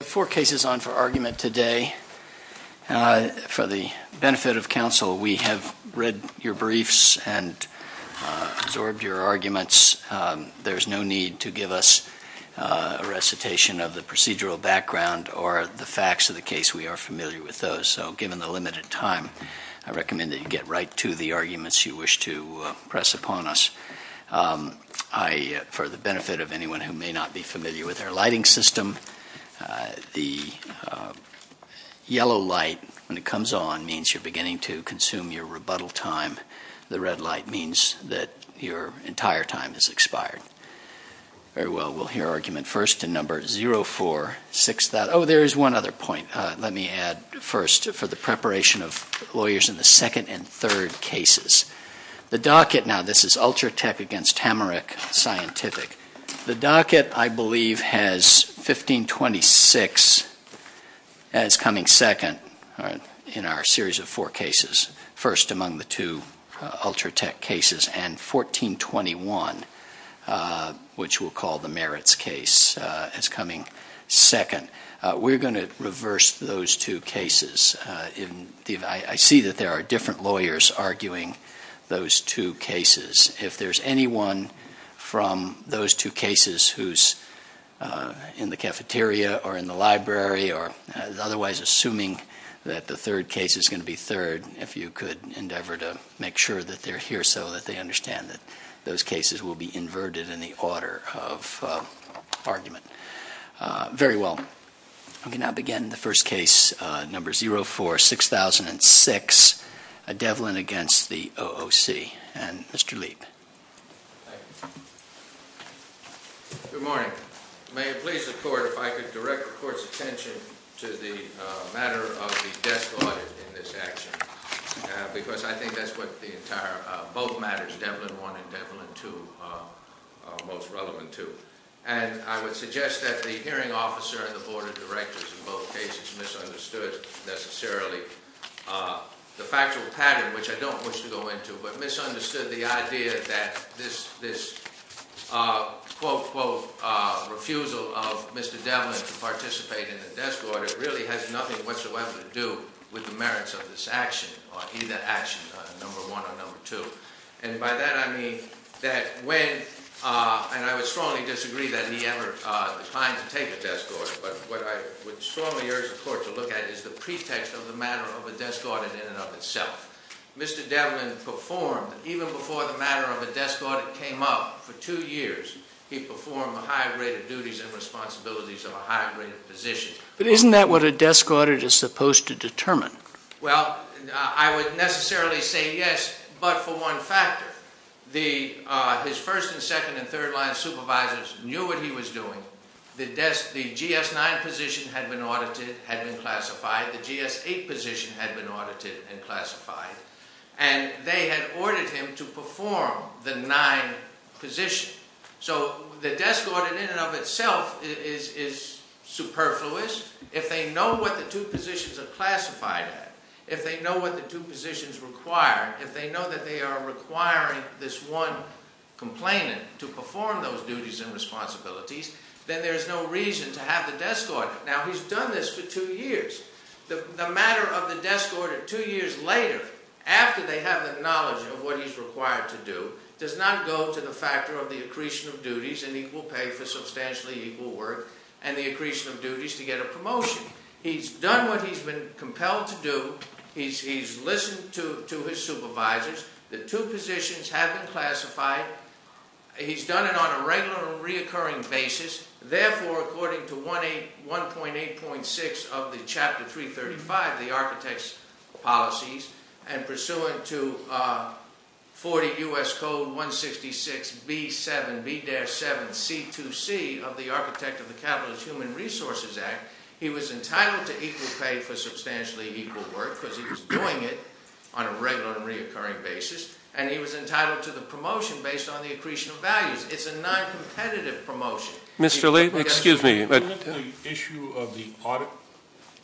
Four cases on for argument today. For the benefit of counsel, we have read your briefs and absorbed your arguments. There's no need to give us a recitation of the procedural background or the facts of the case. We are familiar with those. So given the limited time, I recommend that you get right to the arguments you wish to press upon us. For the benefit of anyone who may not be familiar with our lighting system, the yellow light when it comes on means you're beginning to consume your rebuttal time. The red light means that your entire time has expired. Very well. We'll hear argument first in number 046. Oh, there is one other point. Let me add first for the preparation of lawyers in the second and third cases. The docket now, this is Ultratech against Hamarik Scientific. The docket, I believe, has 1526 as coming second in our series of four cases. First among the two Ultratech cases and 1421, which we'll call the merits case, as coming second. We're going to reverse those two cases. I see that there are different lawyers arguing those two cases. If there's anyone from those two cases who's in the cafeteria or in the library or otherwise assuming that the third case is going to be third, if you could endeavor to make sure that they're here so that they understand that those cases will be inverted in the order of argument. Very well. We can now begin the first case, number 046006, Devlin against the OOC. And Mr. Leib. Thank you. Good morning. May it please the Court if I could direct the Court's attention to the matter of the desk audit in this action, because I think that's what both matters, Devlin 1 and Devlin 2, are most relevant to. And I would suggest that the hearing officer and the Board of Directors in both cases misunderstood necessarily the factual pattern, which I don't wish to go into, but misunderstood the idea that this, quote, quote, refusal of Mr. Devlin to participate in the desk audit really has nothing whatsoever to do with the merits of this action or either action, number 1 or number 2. And by that I mean that when, and I would strongly disagree that he ever declined to take a desk audit, but what I would strongly urge the Court to look at is the pretext of the matter of a desk audit in and of itself. Mr. Devlin performed, even before the matter of a desk audit came up, for two years, he performed a high rate of duties and responsibilities of a high rate of position. But isn't that what a desk audit is supposed to determine? Well, I would necessarily say yes, but for one factor. His first and second and third line supervisors knew what he was doing. The GS9 position had been audited, had been classified. The GS8 position had been audited and classified. And they had ordered him to perform the 9 position. So the desk audit in and of itself is superfluous. If they know what the two positions are classified at, if they know what the two positions require, if they know that they are requiring this one complainant to perform those duties and responsibilities, then there is no reason to have the desk audit. Now, he's done this for two years. The matter of the desk audit two years later, after they have the knowledge of what he's required to do, does not go to the factor of the accretion of duties and equal pay for substantially equal work and the accretion of duties to get a promotion. He's done what he's been compelled to do. He's listened to his supervisors. The two positions have been classified. He's done it on a regular and reoccurring basis. Therefore, according to 1.8.6 of the Chapter 335, the architect's policies, and pursuant to 40 U.S. Code 166B7B-7C2C of the Architect of the Capitalist Human Resources Act, he was entitled to equal pay for substantially equal work because he was doing it on a regular and reoccurring basis. And he was entitled to the promotion based on the accretion of values. It's a noncompetitive promotion. Mr. Lee, excuse me. Wasn't the issue of the audit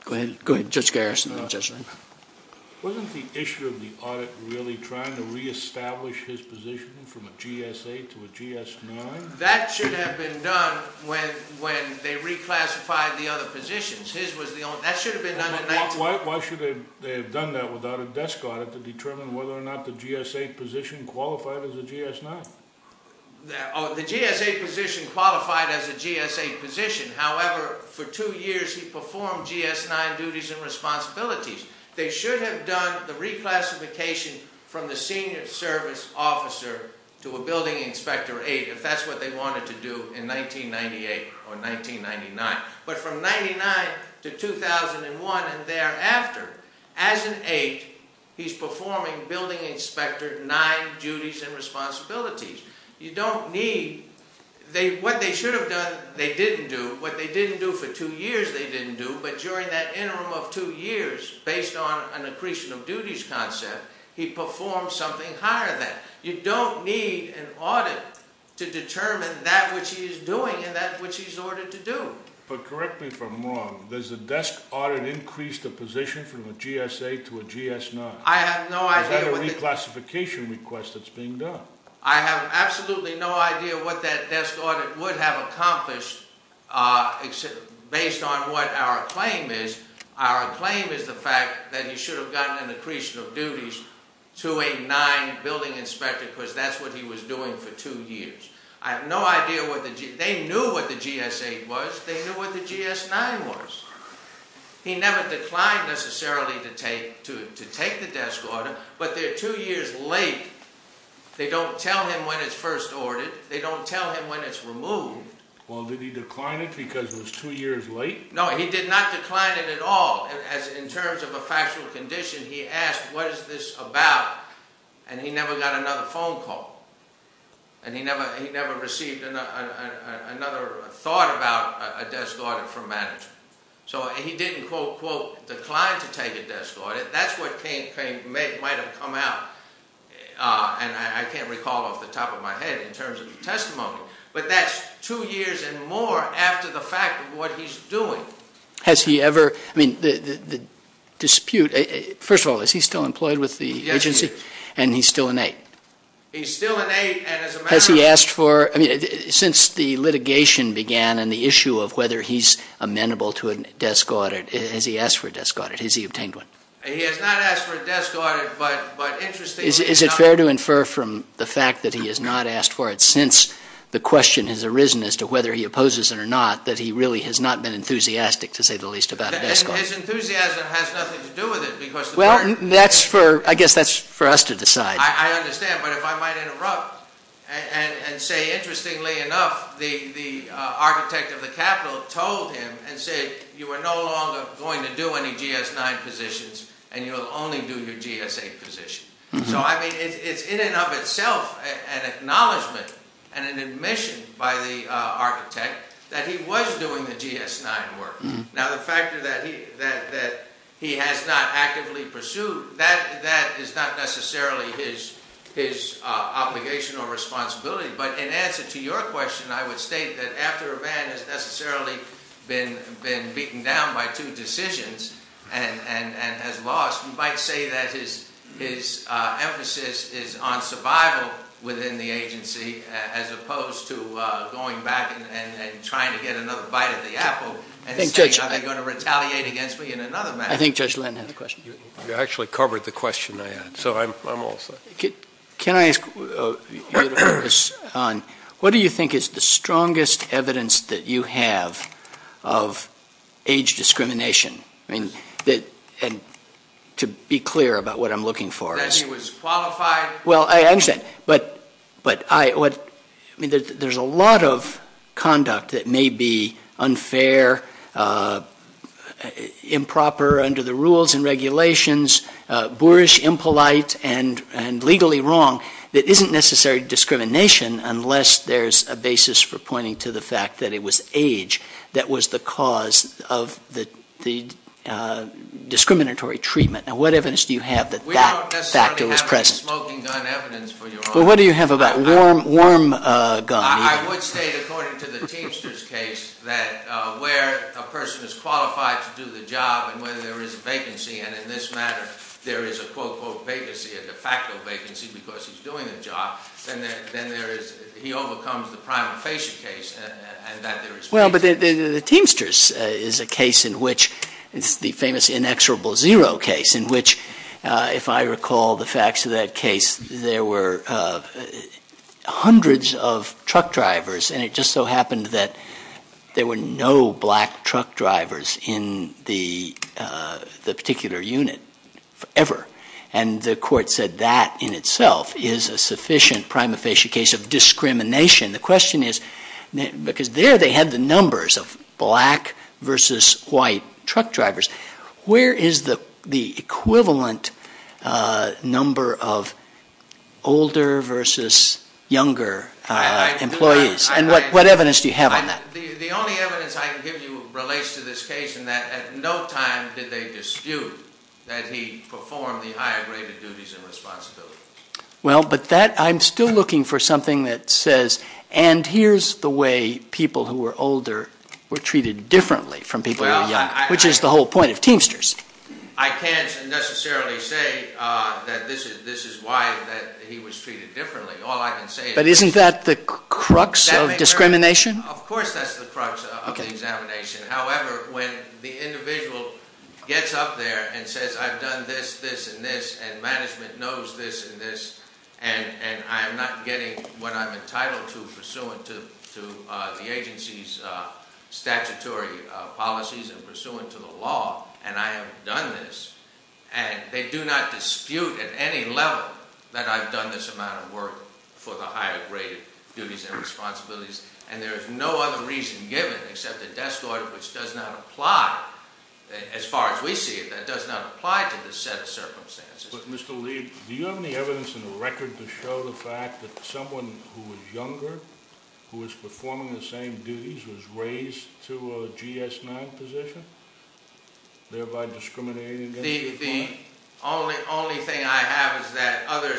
Go ahead. Go ahead, Judge Garrison. Wasn't the issue of the audit really trying to reestablish his position from a GS-8 to a GS-9? That should have been done when they reclassified the other positions. That should have been done in 19- Why should they have done that without a desk audit to determine whether or not the GS-8 position qualified as a GS-9? The GS-8 position qualified as a GS-8 position. However, for two years he performed GS-9 duties and responsibilities. They should have done the reclassification from the Senior Service Officer to a Building Inspector-8 if that's what they wanted to do in 1998 or 1999. But from 1999 to 2001 and thereafter, as an 8, he's performing Building Inspector-9 duties and responsibilities. You don't need- What they should have done, they didn't do. What they didn't do for two years, they didn't do. But during that interim of two years, based on an accretion of duties concept, he performed something higher than. You don't need an audit to determine that which he is doing and that which he's ordered to do. But correct me if I'm wrong. Does the desk audit increase the position from a GS-8 to a GS-9? I have no idea what the- Is that a reclassification request that's being done? I have absolutely no idea what that desk audit would have accomplished based on what our claim is. Our claim is the fact that he should have gotten an accretion of duties to a 9 Building Inspector because that's what he was doing for two years. I have no idea what the- They knew what the GS-8 was. They knew what the GS-9 was. He never declined necessarily to take the desk audit, but they're two years late. They don't tell him when it's first ordered. They don't tell him when it's removed. Well, did he decline it because it was two years late? No, he did not decline it at all. In terms of a factual condition, he asked, what is this about? And he never got another phone call. And he never received another thought about a desk audit from management. So he didn't, quote, unquote, decline to take a desk audit. That's what might have come out, and I can't recall off the top of my head in terms of the testimony. But that's two years and more after the fact of what he's doing. Has he ever- I mean, the dispute- First of all, is he still employed with the agency? And he's still an 8? He's still an 8, and as a matter of- Has he asked for- I mean, since the litigation began and the issue of whether he's amenable to a desk audit, has he asked for a desk audit? Has he obtained one? He has not asked for a desk audit, but interestingly enough- Is it fair to infer from the fact that he has not asked for it since the question has arisen as to whether he opposes it or not that he really has not been enthusiastic, to say the least, about a desk audit? His enthusiasm has nothing to do with it because- Well, that's for- I guess that's for us to decide. I understand, but if I might interrupt and say, interestingly enough, the architect of the Capitol told him and said, you are no longer going to do any GS-9 positions, and you'll only do your GS-8 position. So, I mean, it's in and of itself an acknowledgement and an admission by the architect that he was doing the GS-9 work. Now, the fact that he has not actively pursued, that is not necessarily his obligation or responsibility. But in answer to your question, I would state that after a man has necessarily been beaten down by two decisions and has lost, you might say that his emphasis is on survival within the agency as opposed to going back and trying to get another bite of the apple. And saying, are they going to retaliate against me in another manner? I think Judge Lenton has a question. You actually covered the question I had, so I'm all set. Can I ask you to focus on what do you think is the strongest evidence that you have of age discrimination? I mean, to be clear about what I'm looking for is- That he was qualified- Well, I understand. But there's a lot of conduct that may be unfair, improper under the rules and regulations, boorish, impolite, and legally wrong that isn't necessarily discrimination unless there's a basis for pointing to the fact that it was age that was the cause of the discriminatory treatment. Now, what evidence do you have that that factor was present? Well, what do you have about worm gum? I would say, according to the Teamsters case, that where a person is qualified to do the job and where there is a vacancy, and in this matter there is a quote-unquote vacancy, a de facto vacancy because he's doing the job, then he overcomes the prima facie case and that there is vacancy. Well, but the Teamsters is a case in which it's the famous inexorable zero case in which, if I recall the facts of that case, there were hundreds of truck drivers and it just so happened that there were no black truck drivers in the particular unit ever. And the court said that in itself is a sufficient prima facie case of discrimination. The question is, because there they had the numbers of black versus white truck drivers, where is the equivalent number of older versus younger employees? And what evidence do you have on that? The only evidence I can give you relates to this case in that at no time did they dispute that he performed the higher graded duties and responsibilities. Well, but that, I'm still looking for something that says, and here's the way people who were older were treated differently from people who were younger, which is the whole point of Teamsters. I can't necessarily say that this is why he was treated differently. All I can say is... But isn't that the crux of discrimination? Of course that's the crux of the examination. However, when the individual gets up there and says, I've done this, this, and this, and management knows this and this, and I'm not getting what I'm getting from the agency's statutory policies and pursuant to the law, and I have done this, and they do not dispute at any level that I've done this amount of work for the higher graded duties and responsibilities, and there is no other reason given except a desk order which does not apply, as far as we see it, that does not apply to this set of circumstances. But, Mr. Lee, do you have any evidence in the record to show the fact that someone who was younger, who was performing the same duties, was raised to a GS-9 position, thereby discriminating against you? The only thing I have is that other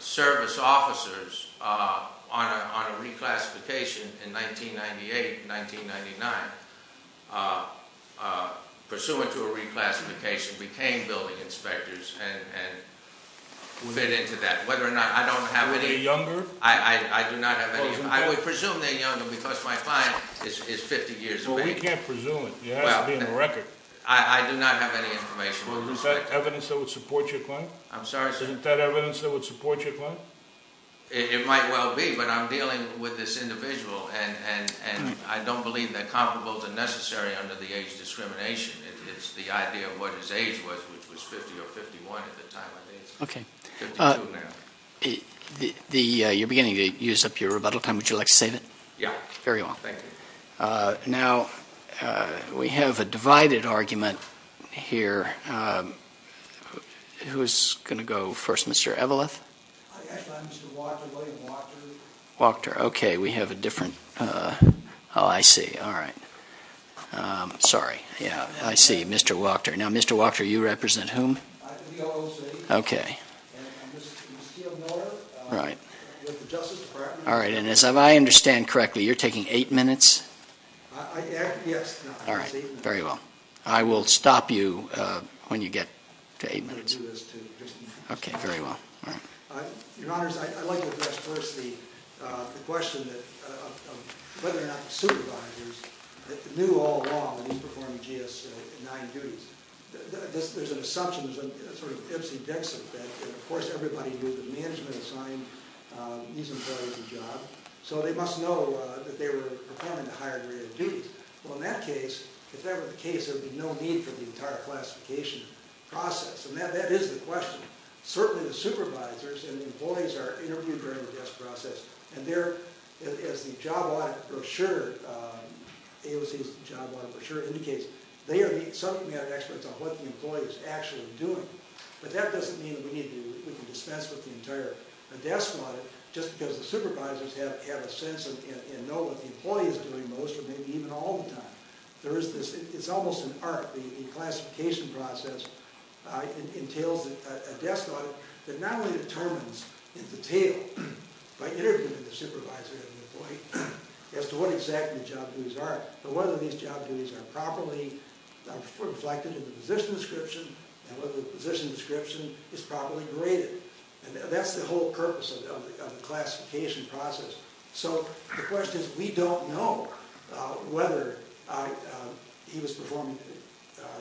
service officers on a reclassification in 1998, 1999, pursuant to a reclassification, became building inspectors and fit into that. They're younger? I do not have any. I would presume they're younger because my client is 50 years of age. Well, we can't presume it. It has to be in the record. I do not have any information. Is that evidence that would support your claim? I'm sorry, sir? Isn't that evidence that would support your claim? It might well be, but I'm dealing with this individual, and I don't believe that comparables are necessary under the age discrimination. It's the idea of what his age was, which was 50 or 51 at the time. Okay. You're beginning to use up your rebuttal time. Would you like to save it? Yeah. Very well. Thank you. Now, we have a divided argument here. Who's going to go first? Mr. Eveleth? Actually, I'm Mr. Wachter. William Wachter. Wachter. Okay. We have a different – oh, I see. All right. Sorry. Yeah, I see. Mr. Wachter. Now, Mr. Wachter, you represent whom? Okay. All right. All right, and as I understand correctly, you're taking eight minutes? All right. Very well. I will stop you when you get to eight minutes. Okay. Very well. So there was a sort of ipsy-dinsy effect that, of course, everybody knew that management assigned these employees a job, so they must know that they were performing a higher degree of duties. Well, in that case – if that were the case, there would be no need for the entire classification process, and that is the question. Certainly the supervisors and the employees are interviewed during the desk process and they're – as the job audit brochure, AOC's job audit brochure indicates, some of them But that doesn't mean that we need to dispense with the entire desk audit, just because the supervisors have a sense and know what the employee is doing most, or maybe even all the time. There is this – it's almost an art, the classification process entails a desk audit that not only determines in detail, by interviewing the supervisor and the employee, as to what exactly the job duties are, but whether these job duties are properly reflected in the position description, and whether the position description is properly graded. That's the whole purpose of the classification process. So, the question is, we don't know whether he was performing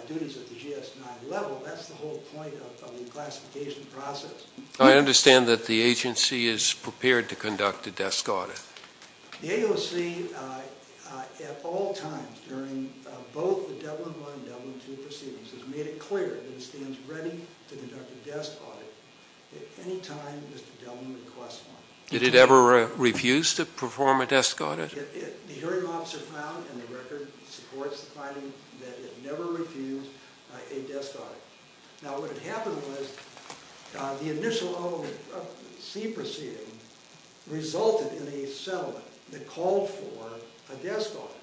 duties at the GS-9 level. That's the whole point of the classification process. I understand that the agency is prepared to conduct a desk audit. The AOC, at all times, during both the Dublin 1 and Dublin 2 proceedings, has made it clear that it stands ready to conduct a desk audit at any time Mr. Dublin requests one. Did it ever refuse to perform a desk audit? The hearing officer found, and the record supports the finding, that it never refused a desk audit. Now, what had happened was, the initial AOC proceeding resulted in a settlement that called for a desk audit.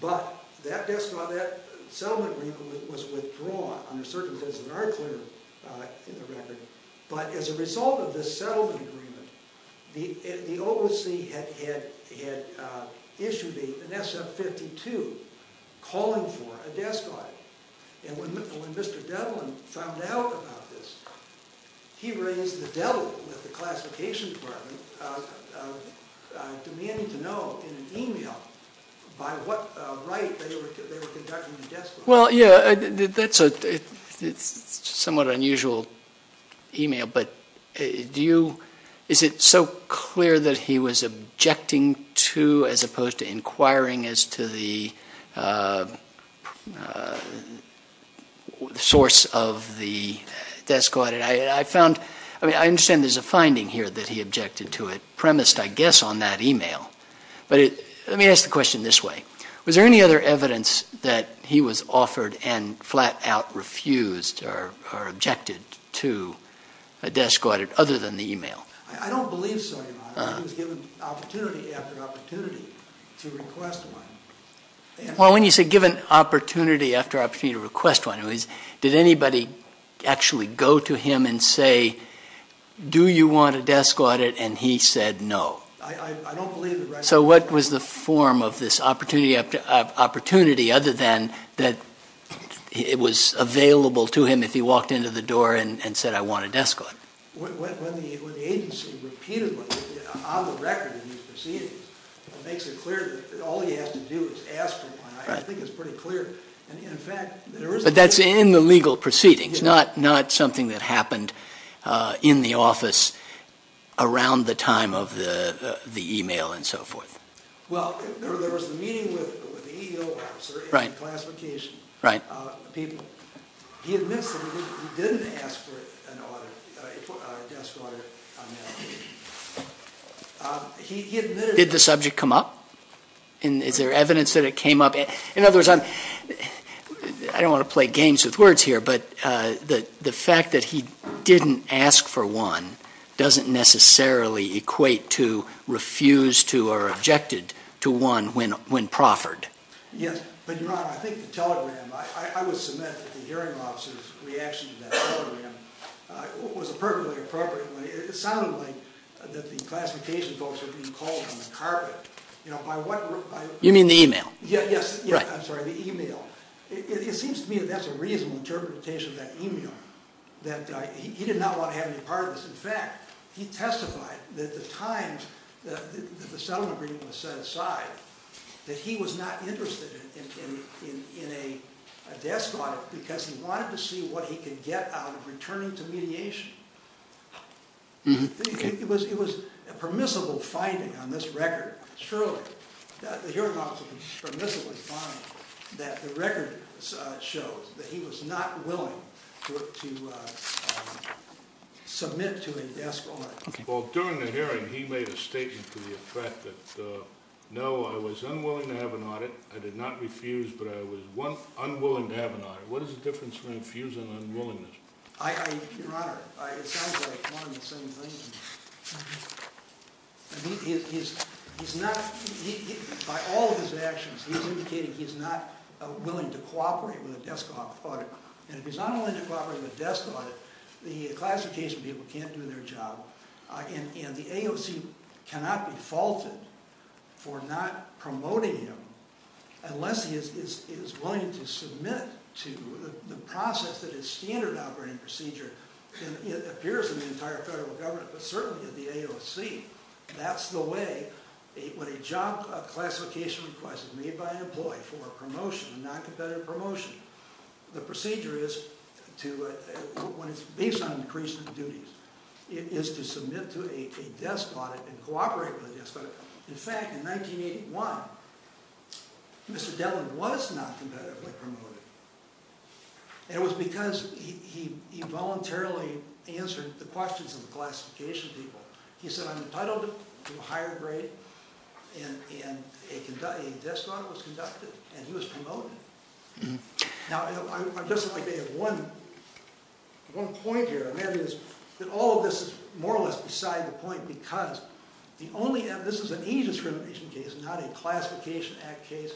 But, that desk audit, that settlement agreement was withdrawn, under certain conditions that are clear in the record. But, as a result of this settlement agreement, the OOC had issued an SF-52 calling for a desk audit. And, when Mr. Dublin found out about this, he raised the devil with the classification department, demanding to know, in an email, by what right they were conducting the desk audit. Well, yeah, that's a somewhat unusual email, but do you, is it so clear that he was objecting to, as opposed to inquiring as to the source of the desk audit? I found, I mean, I understand there's a finding here that he objected to it, premised, I guess, on that email. But, let me ask the question this way. Was there any other evidence that he was offered and flat out refused or objected to a desk audit, other than the email? I don't believe so, Your Honor. He was given opportunity after opportunity to request one. Well, when you say given opportunity after opportunity to request one, did anybody actually go to him and say, do you want a desk audit? And, he said no. I don't believe the record. So, what was the form of this opportunity after opportunity, other than that it was available to him if he walked into the door and said, I want a desk audit? When the agency repeatedly, on the record in these proceedings, makes it clear that all he has to do is ask for one, I think it's pretty clear. And, in fact, there is a... But, that's in the legal proceedings, not something that happened in the office around the time of the email and so forth. Well, there was a meeting with the EEO officer and the classification people. He admits that he didn't ask for a desk audit. Did the subject come up? Is there evidence that it came up? In other words, I don't want to play games with words here, but the fact that he didn't ask for one doesn't necessarily equate to refuse to or objected to one when proffered. Yes. But, Your Honor, I think the telegram, I would submit that the hearing officer's reaction to that telegram was perfectly appropriate. It sounded like that the classification folks were being called on the carpet. You know, by what... You mean the email? Yes. I'm sorry, the email. It seems to me that that's a reasonable interpretation of that email, that he did not want to have any part of this. In fact, he testified that the times that the settlement agreement was set aside, that he was not interested in a desk audit because he wanted to see what he could get out of returning to mediation. It was a permissible finding on this record, surely. The hearing officer could permissibly find that the record shows that he was not willing to submit to a desk audit. Well, during the hearing, he made a statement to the effect that, no, I was unwilling to have an audit. I did not refuse, but I was unwilling to have an audit. What is the difference between refuse and unwillingness? Your Honor, it sounds like one and the same thing. By all of his actions, he's indicating he's not willing to cooperate with a desk audit. And if he's not willing to cooperate with a desk audit, the classification people can't do their job. And the AOC cannot be faulted for not promoting him unless he is willing to submit to the process that is standard operating procedure. It appears in the entire federal government, but certainly in the AOC, that's the way, when a job classification request is made by an employee for a promotion, a non-competitive promotion, the procedure is to, when it's based on increased duties, is to submit to a desk audit and cooperate with a desk audit. In fact, in 1981, Mr. Dellin was not competitively promoted. And it was because he voluntarily answered the questions of the classification people. He said, I'm entitled to a higher grade, and a desk audit was conducted, and he was Now, I'd just like to add one point here. All of this is more or less beside the point, because this is an age discrimination case, not a Classification Act case.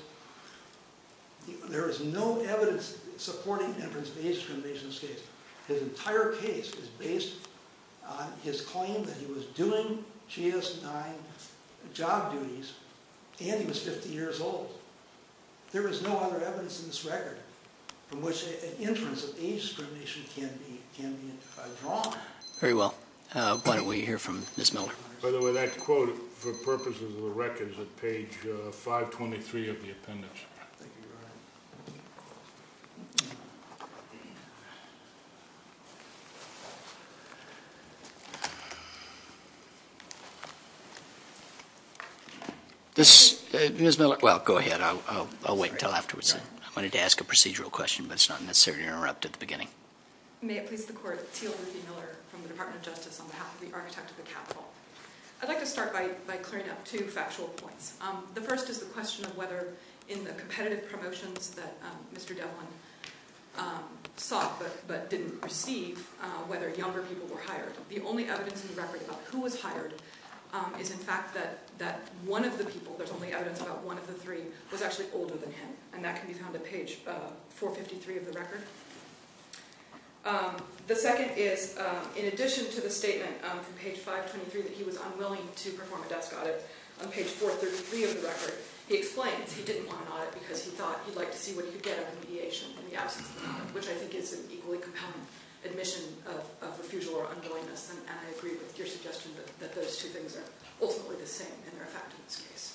There is no evidence supporting Everett's age discrimination case. His entire case is based on his claim that he was doing GS-9 job duties, and he was 50 years old. There is no other evidence in this record from which an inference of age discrimination can be drawn. Very well. Why don't we hear from Ms. Miller. By the way, that quote, for purposes of the record, is at page 523 of the appendix. Thank you very much. Ms. Miller, well, go ahead. I'll wait until afterwards. I wanted to ask a procedural question, but it's not necessary to interrupt at the beginning. May it please the Court. Teal Luthie Miller from the Department of Justice on behalf of the Architect of the Capitol. I'd like to start by clearing up two factual points. The first is the question of whether in the competitive promotions that Mr. Devlin sought but didn't receive, whether younger people were hired. The only evidence in the record about who was hired is, in fact, that one of the people, there's only evidence about one of the three, was actually older than him, and that can be found at page 453 of the record. The second is, in addition to the statement from page 523 that he was unwilling to perform a desk audit, on page 433 of the record, he explains he didn't want an audit because he thought he'd like to see what he could get out of the mediation in the absence of an audit, which I think is an equally compelling admission of refusal or unwillingness, and I agree with your suggestion that those two things are ultimately the same and they're a fact in this case.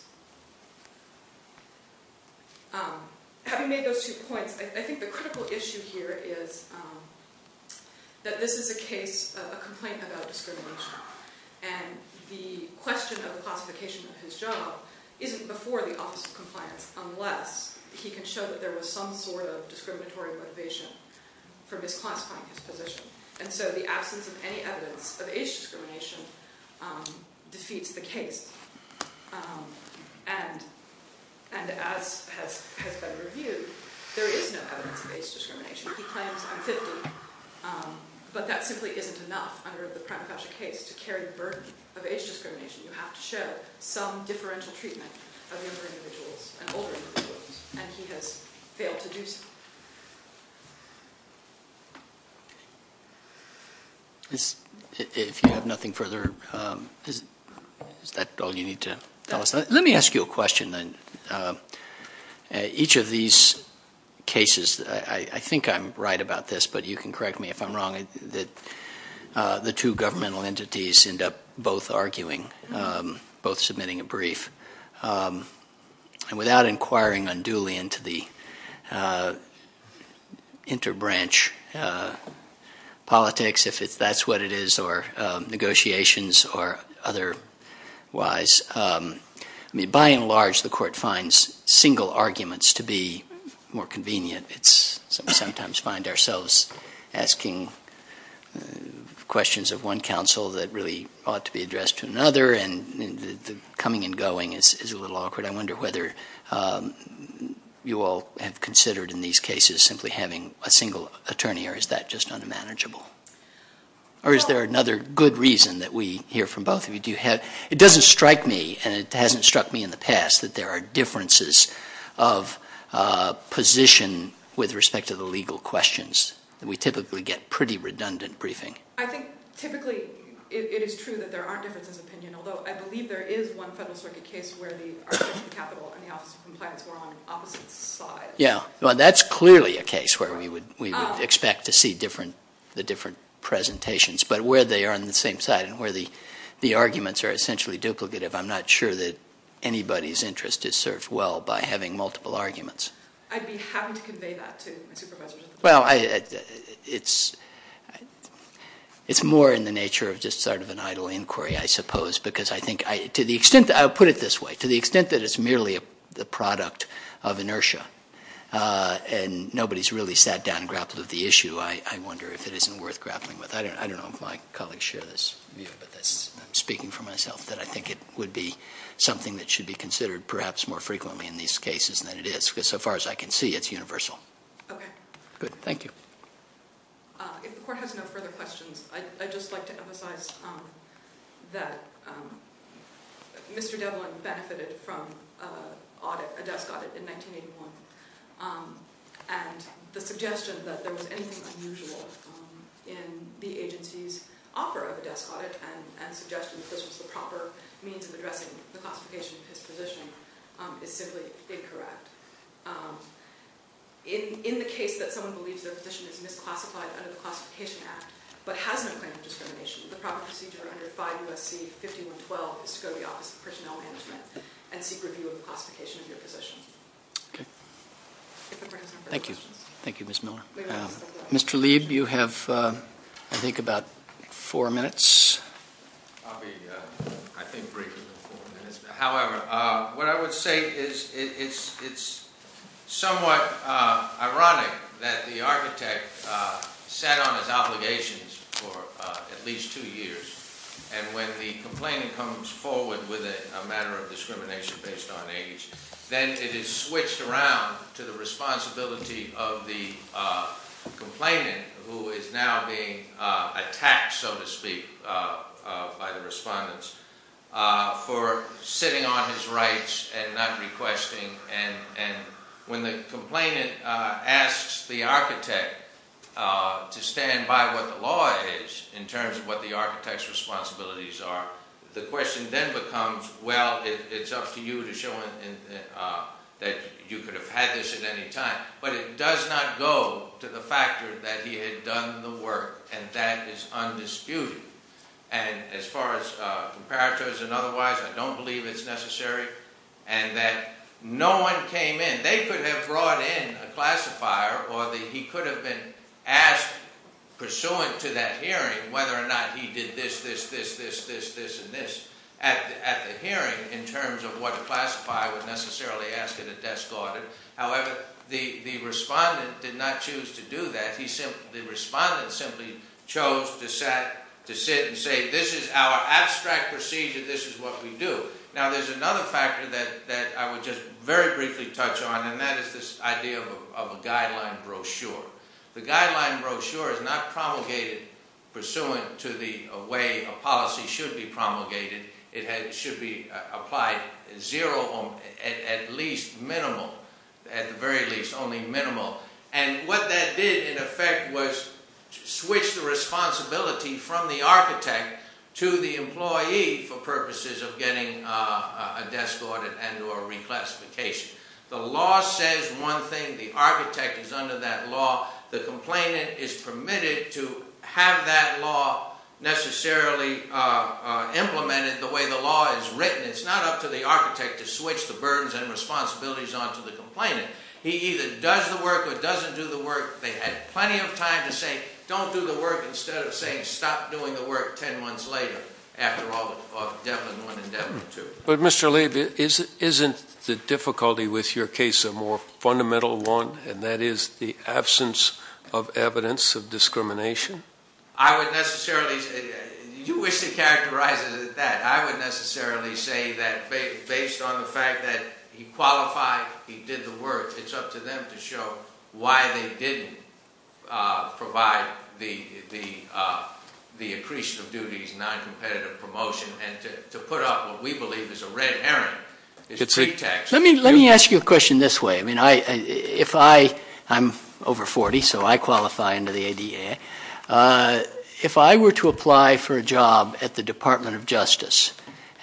Having made those two points, I think the critical issue here is that this is a case, a complaint about discrimination, and the question of the classification of his job isn't before the Office of Compliance unless he can show that there was some sort of discriminatory motivation for misclassifying his position, and so the absence of any evidence of age discrimination defeats the case, and as has been reviewed, there is no evidence of age discrimination. He claims I'm 50, but that simply isn't enough under the prima facie case to carry the burden of age discrimination. You have to show some differential treatment of younger individuals and older individuals, and he has failed to do so. If you have nothing further, is that all you need to tell us? Let me ask you a question then. Each of these cases, I think I'm right about this, but you can correct me if I'm wrong, that the two governmental entities end up both arguing, both submitting a brief, and without inquiring unduly into the interbranch politics, if that's what it is, or negotiations or otherwise. I mean, by and large, the Court finds single arguments to be more convenient. We sometimes find ourselves asking questions of one counsel that really ought to be addressed to another, and the coming and going is a little awkward. I wonder whether you all have considered in these cases simply having a single attorney, or is that just unmanageable? Or is there another good reason that we hear from both of you? It doesn't strike me, and it hasn't struck me in the past, that there are differences of position with respect to the legal questions. We typically get pretty redundant briefing. I think typically it is true that there are differences of opinion, although I believe there is one Federal Circuit case where the arbitration capital and the Office of Compliance were on opposite sides. Yeah. Well, that's clearly a case where we would expect to see the different presentations, but where they are on the same side and where the arguments are essentially duplicative, I'm not sure that anybody's interest is served well by having multiple arguments. I'd be happy to convey that to my supervisors. Well, it's more in the nature of just sort of an idle inquiry, I suppose, because I think to the extent that I'll put it this way, to the extent that it's merely the product of inertia and nobody's really sat down and grappled with the issue, I wonder if it isn't worth grappling with. I don't know if my colleagues share this view, but I'm speaking for myself, that I think it would be something that should be considered perhaps more frequently in these cases than it is, because so far as I can see it's universal. Okay. Good. Thank you. If the Court has no further questions, I'd just like to emphasize that Mr. Devlin benefited from a desk audit in 1981, and the suggestion that there was anything unusual in the agency's offer of a desk audit and suggestion that this was the proper means of addressing the classification of his position is simply incorrect. In the case that someone believes their position is misclassified under the Classification Act but has no claim of discrimination, the proper procedure under 5 U.S.C. 5112 is to go to the Office of Personnel Management and seek review of the classification of your position. Okay. If the Court has no further questions. Thank you. Thank you, Ms. Miller. Mr. Lieb, you have, I think, about four minutes. I'll be, I think, briefer than four minutes. However, what I would say is it's somewhat ironic that the architect sat on his obligations for at least two years, and when the complainant comes forward with a matter of discrimination based on age, then it is switched around to the responsibility of the complainant, who is now being attacked, so to speak, by the respondents, for sitting on his rights and not requesting. And when the complainant asks the architect to stand by what the law is, in terms of what the architect's responsibilities are, the question then becomes, well, it's up to you to show that you could have had this at any time. But it does not go to the factor that he had done the work, and that is undisputed. And as far as comparators and otherwise, I don't believe it's necessary. And that no one came in. They could have brought in a classifier, or he could have been asked, pursuant to that hearing, whether or not he did this, this, this, this, this, this, and this. At the hearing, in terms of what the classifier would necessarily ask, it is discarded. However, the respondent did not choose to do that. The respondent simply chose to sit and say, this is our abstract procedure, this is what we do. Now there's another factor that I would just very briefly touch on, and that is this idea of a guideline brochure. The guideline brochure is not promulgated pursuant to the way a policy should be promulgated. It should be applied at least minimal, at the very least only minimal. And what that did, in effect, was switch the responsibility from the architect to the employee for purposes of getting a desk audit and or reclassification. The law says one thing, the architect is under that law, the complainant is permitted to have that law necessarily implemented the way the law is written. It's not up to the architect to switch the burdens and responsibilities onto the complainant. He either does the work or doesn't do the work. They had plenty of time to say, don't do the work, instead of saying, stop doing the work ten months later, after all of Devlin 1 and Devlin 2. But Mr. Labe, isn't the difficulty with your case a more fundamental one, and that is the absence of evidence of discrimination? I would necessarily say, you wish to characterize it as that, I would necessarily say that based on the fact that he qualified, he did the work, it's up to them to show why they didn't provide the accretion of duties, noncompetitive promotion, and to put up what we believe is a red herring. Let me ask you a question this way. I'm over 40, so I qualify under the ADA. If I were to apply for a job at the Department of Justice,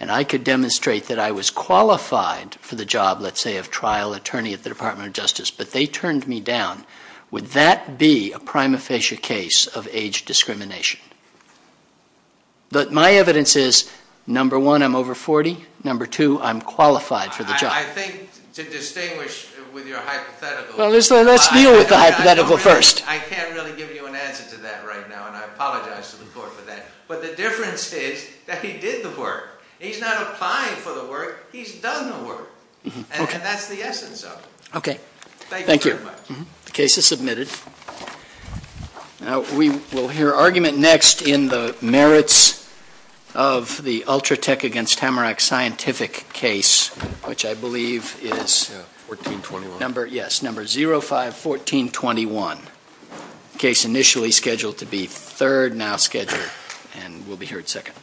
and I could demonstrate that I was qualified for the job, let's say, of trial attorney at the Department of Justice, but they turned me down, would that be a prima facie case of age discrimination? My evidence is, number one, I'm over 40. Number two, I'm qualified for the job. I think to distinguish with your hypothetical, I can't really give you an answer to that right now, and I apologize to the court for that. But the difference is that he did the work. He's not applying for the work, he's done the work. And that's the essence of it. Thank you very much. Thank you. The case is submitted. Now we will hear argument next in the merits of the Ultratech against Tamarack scientific case, which I believe is number 05-1421. Case initially scheduled to be third, now scheduled, and we'll be here at second.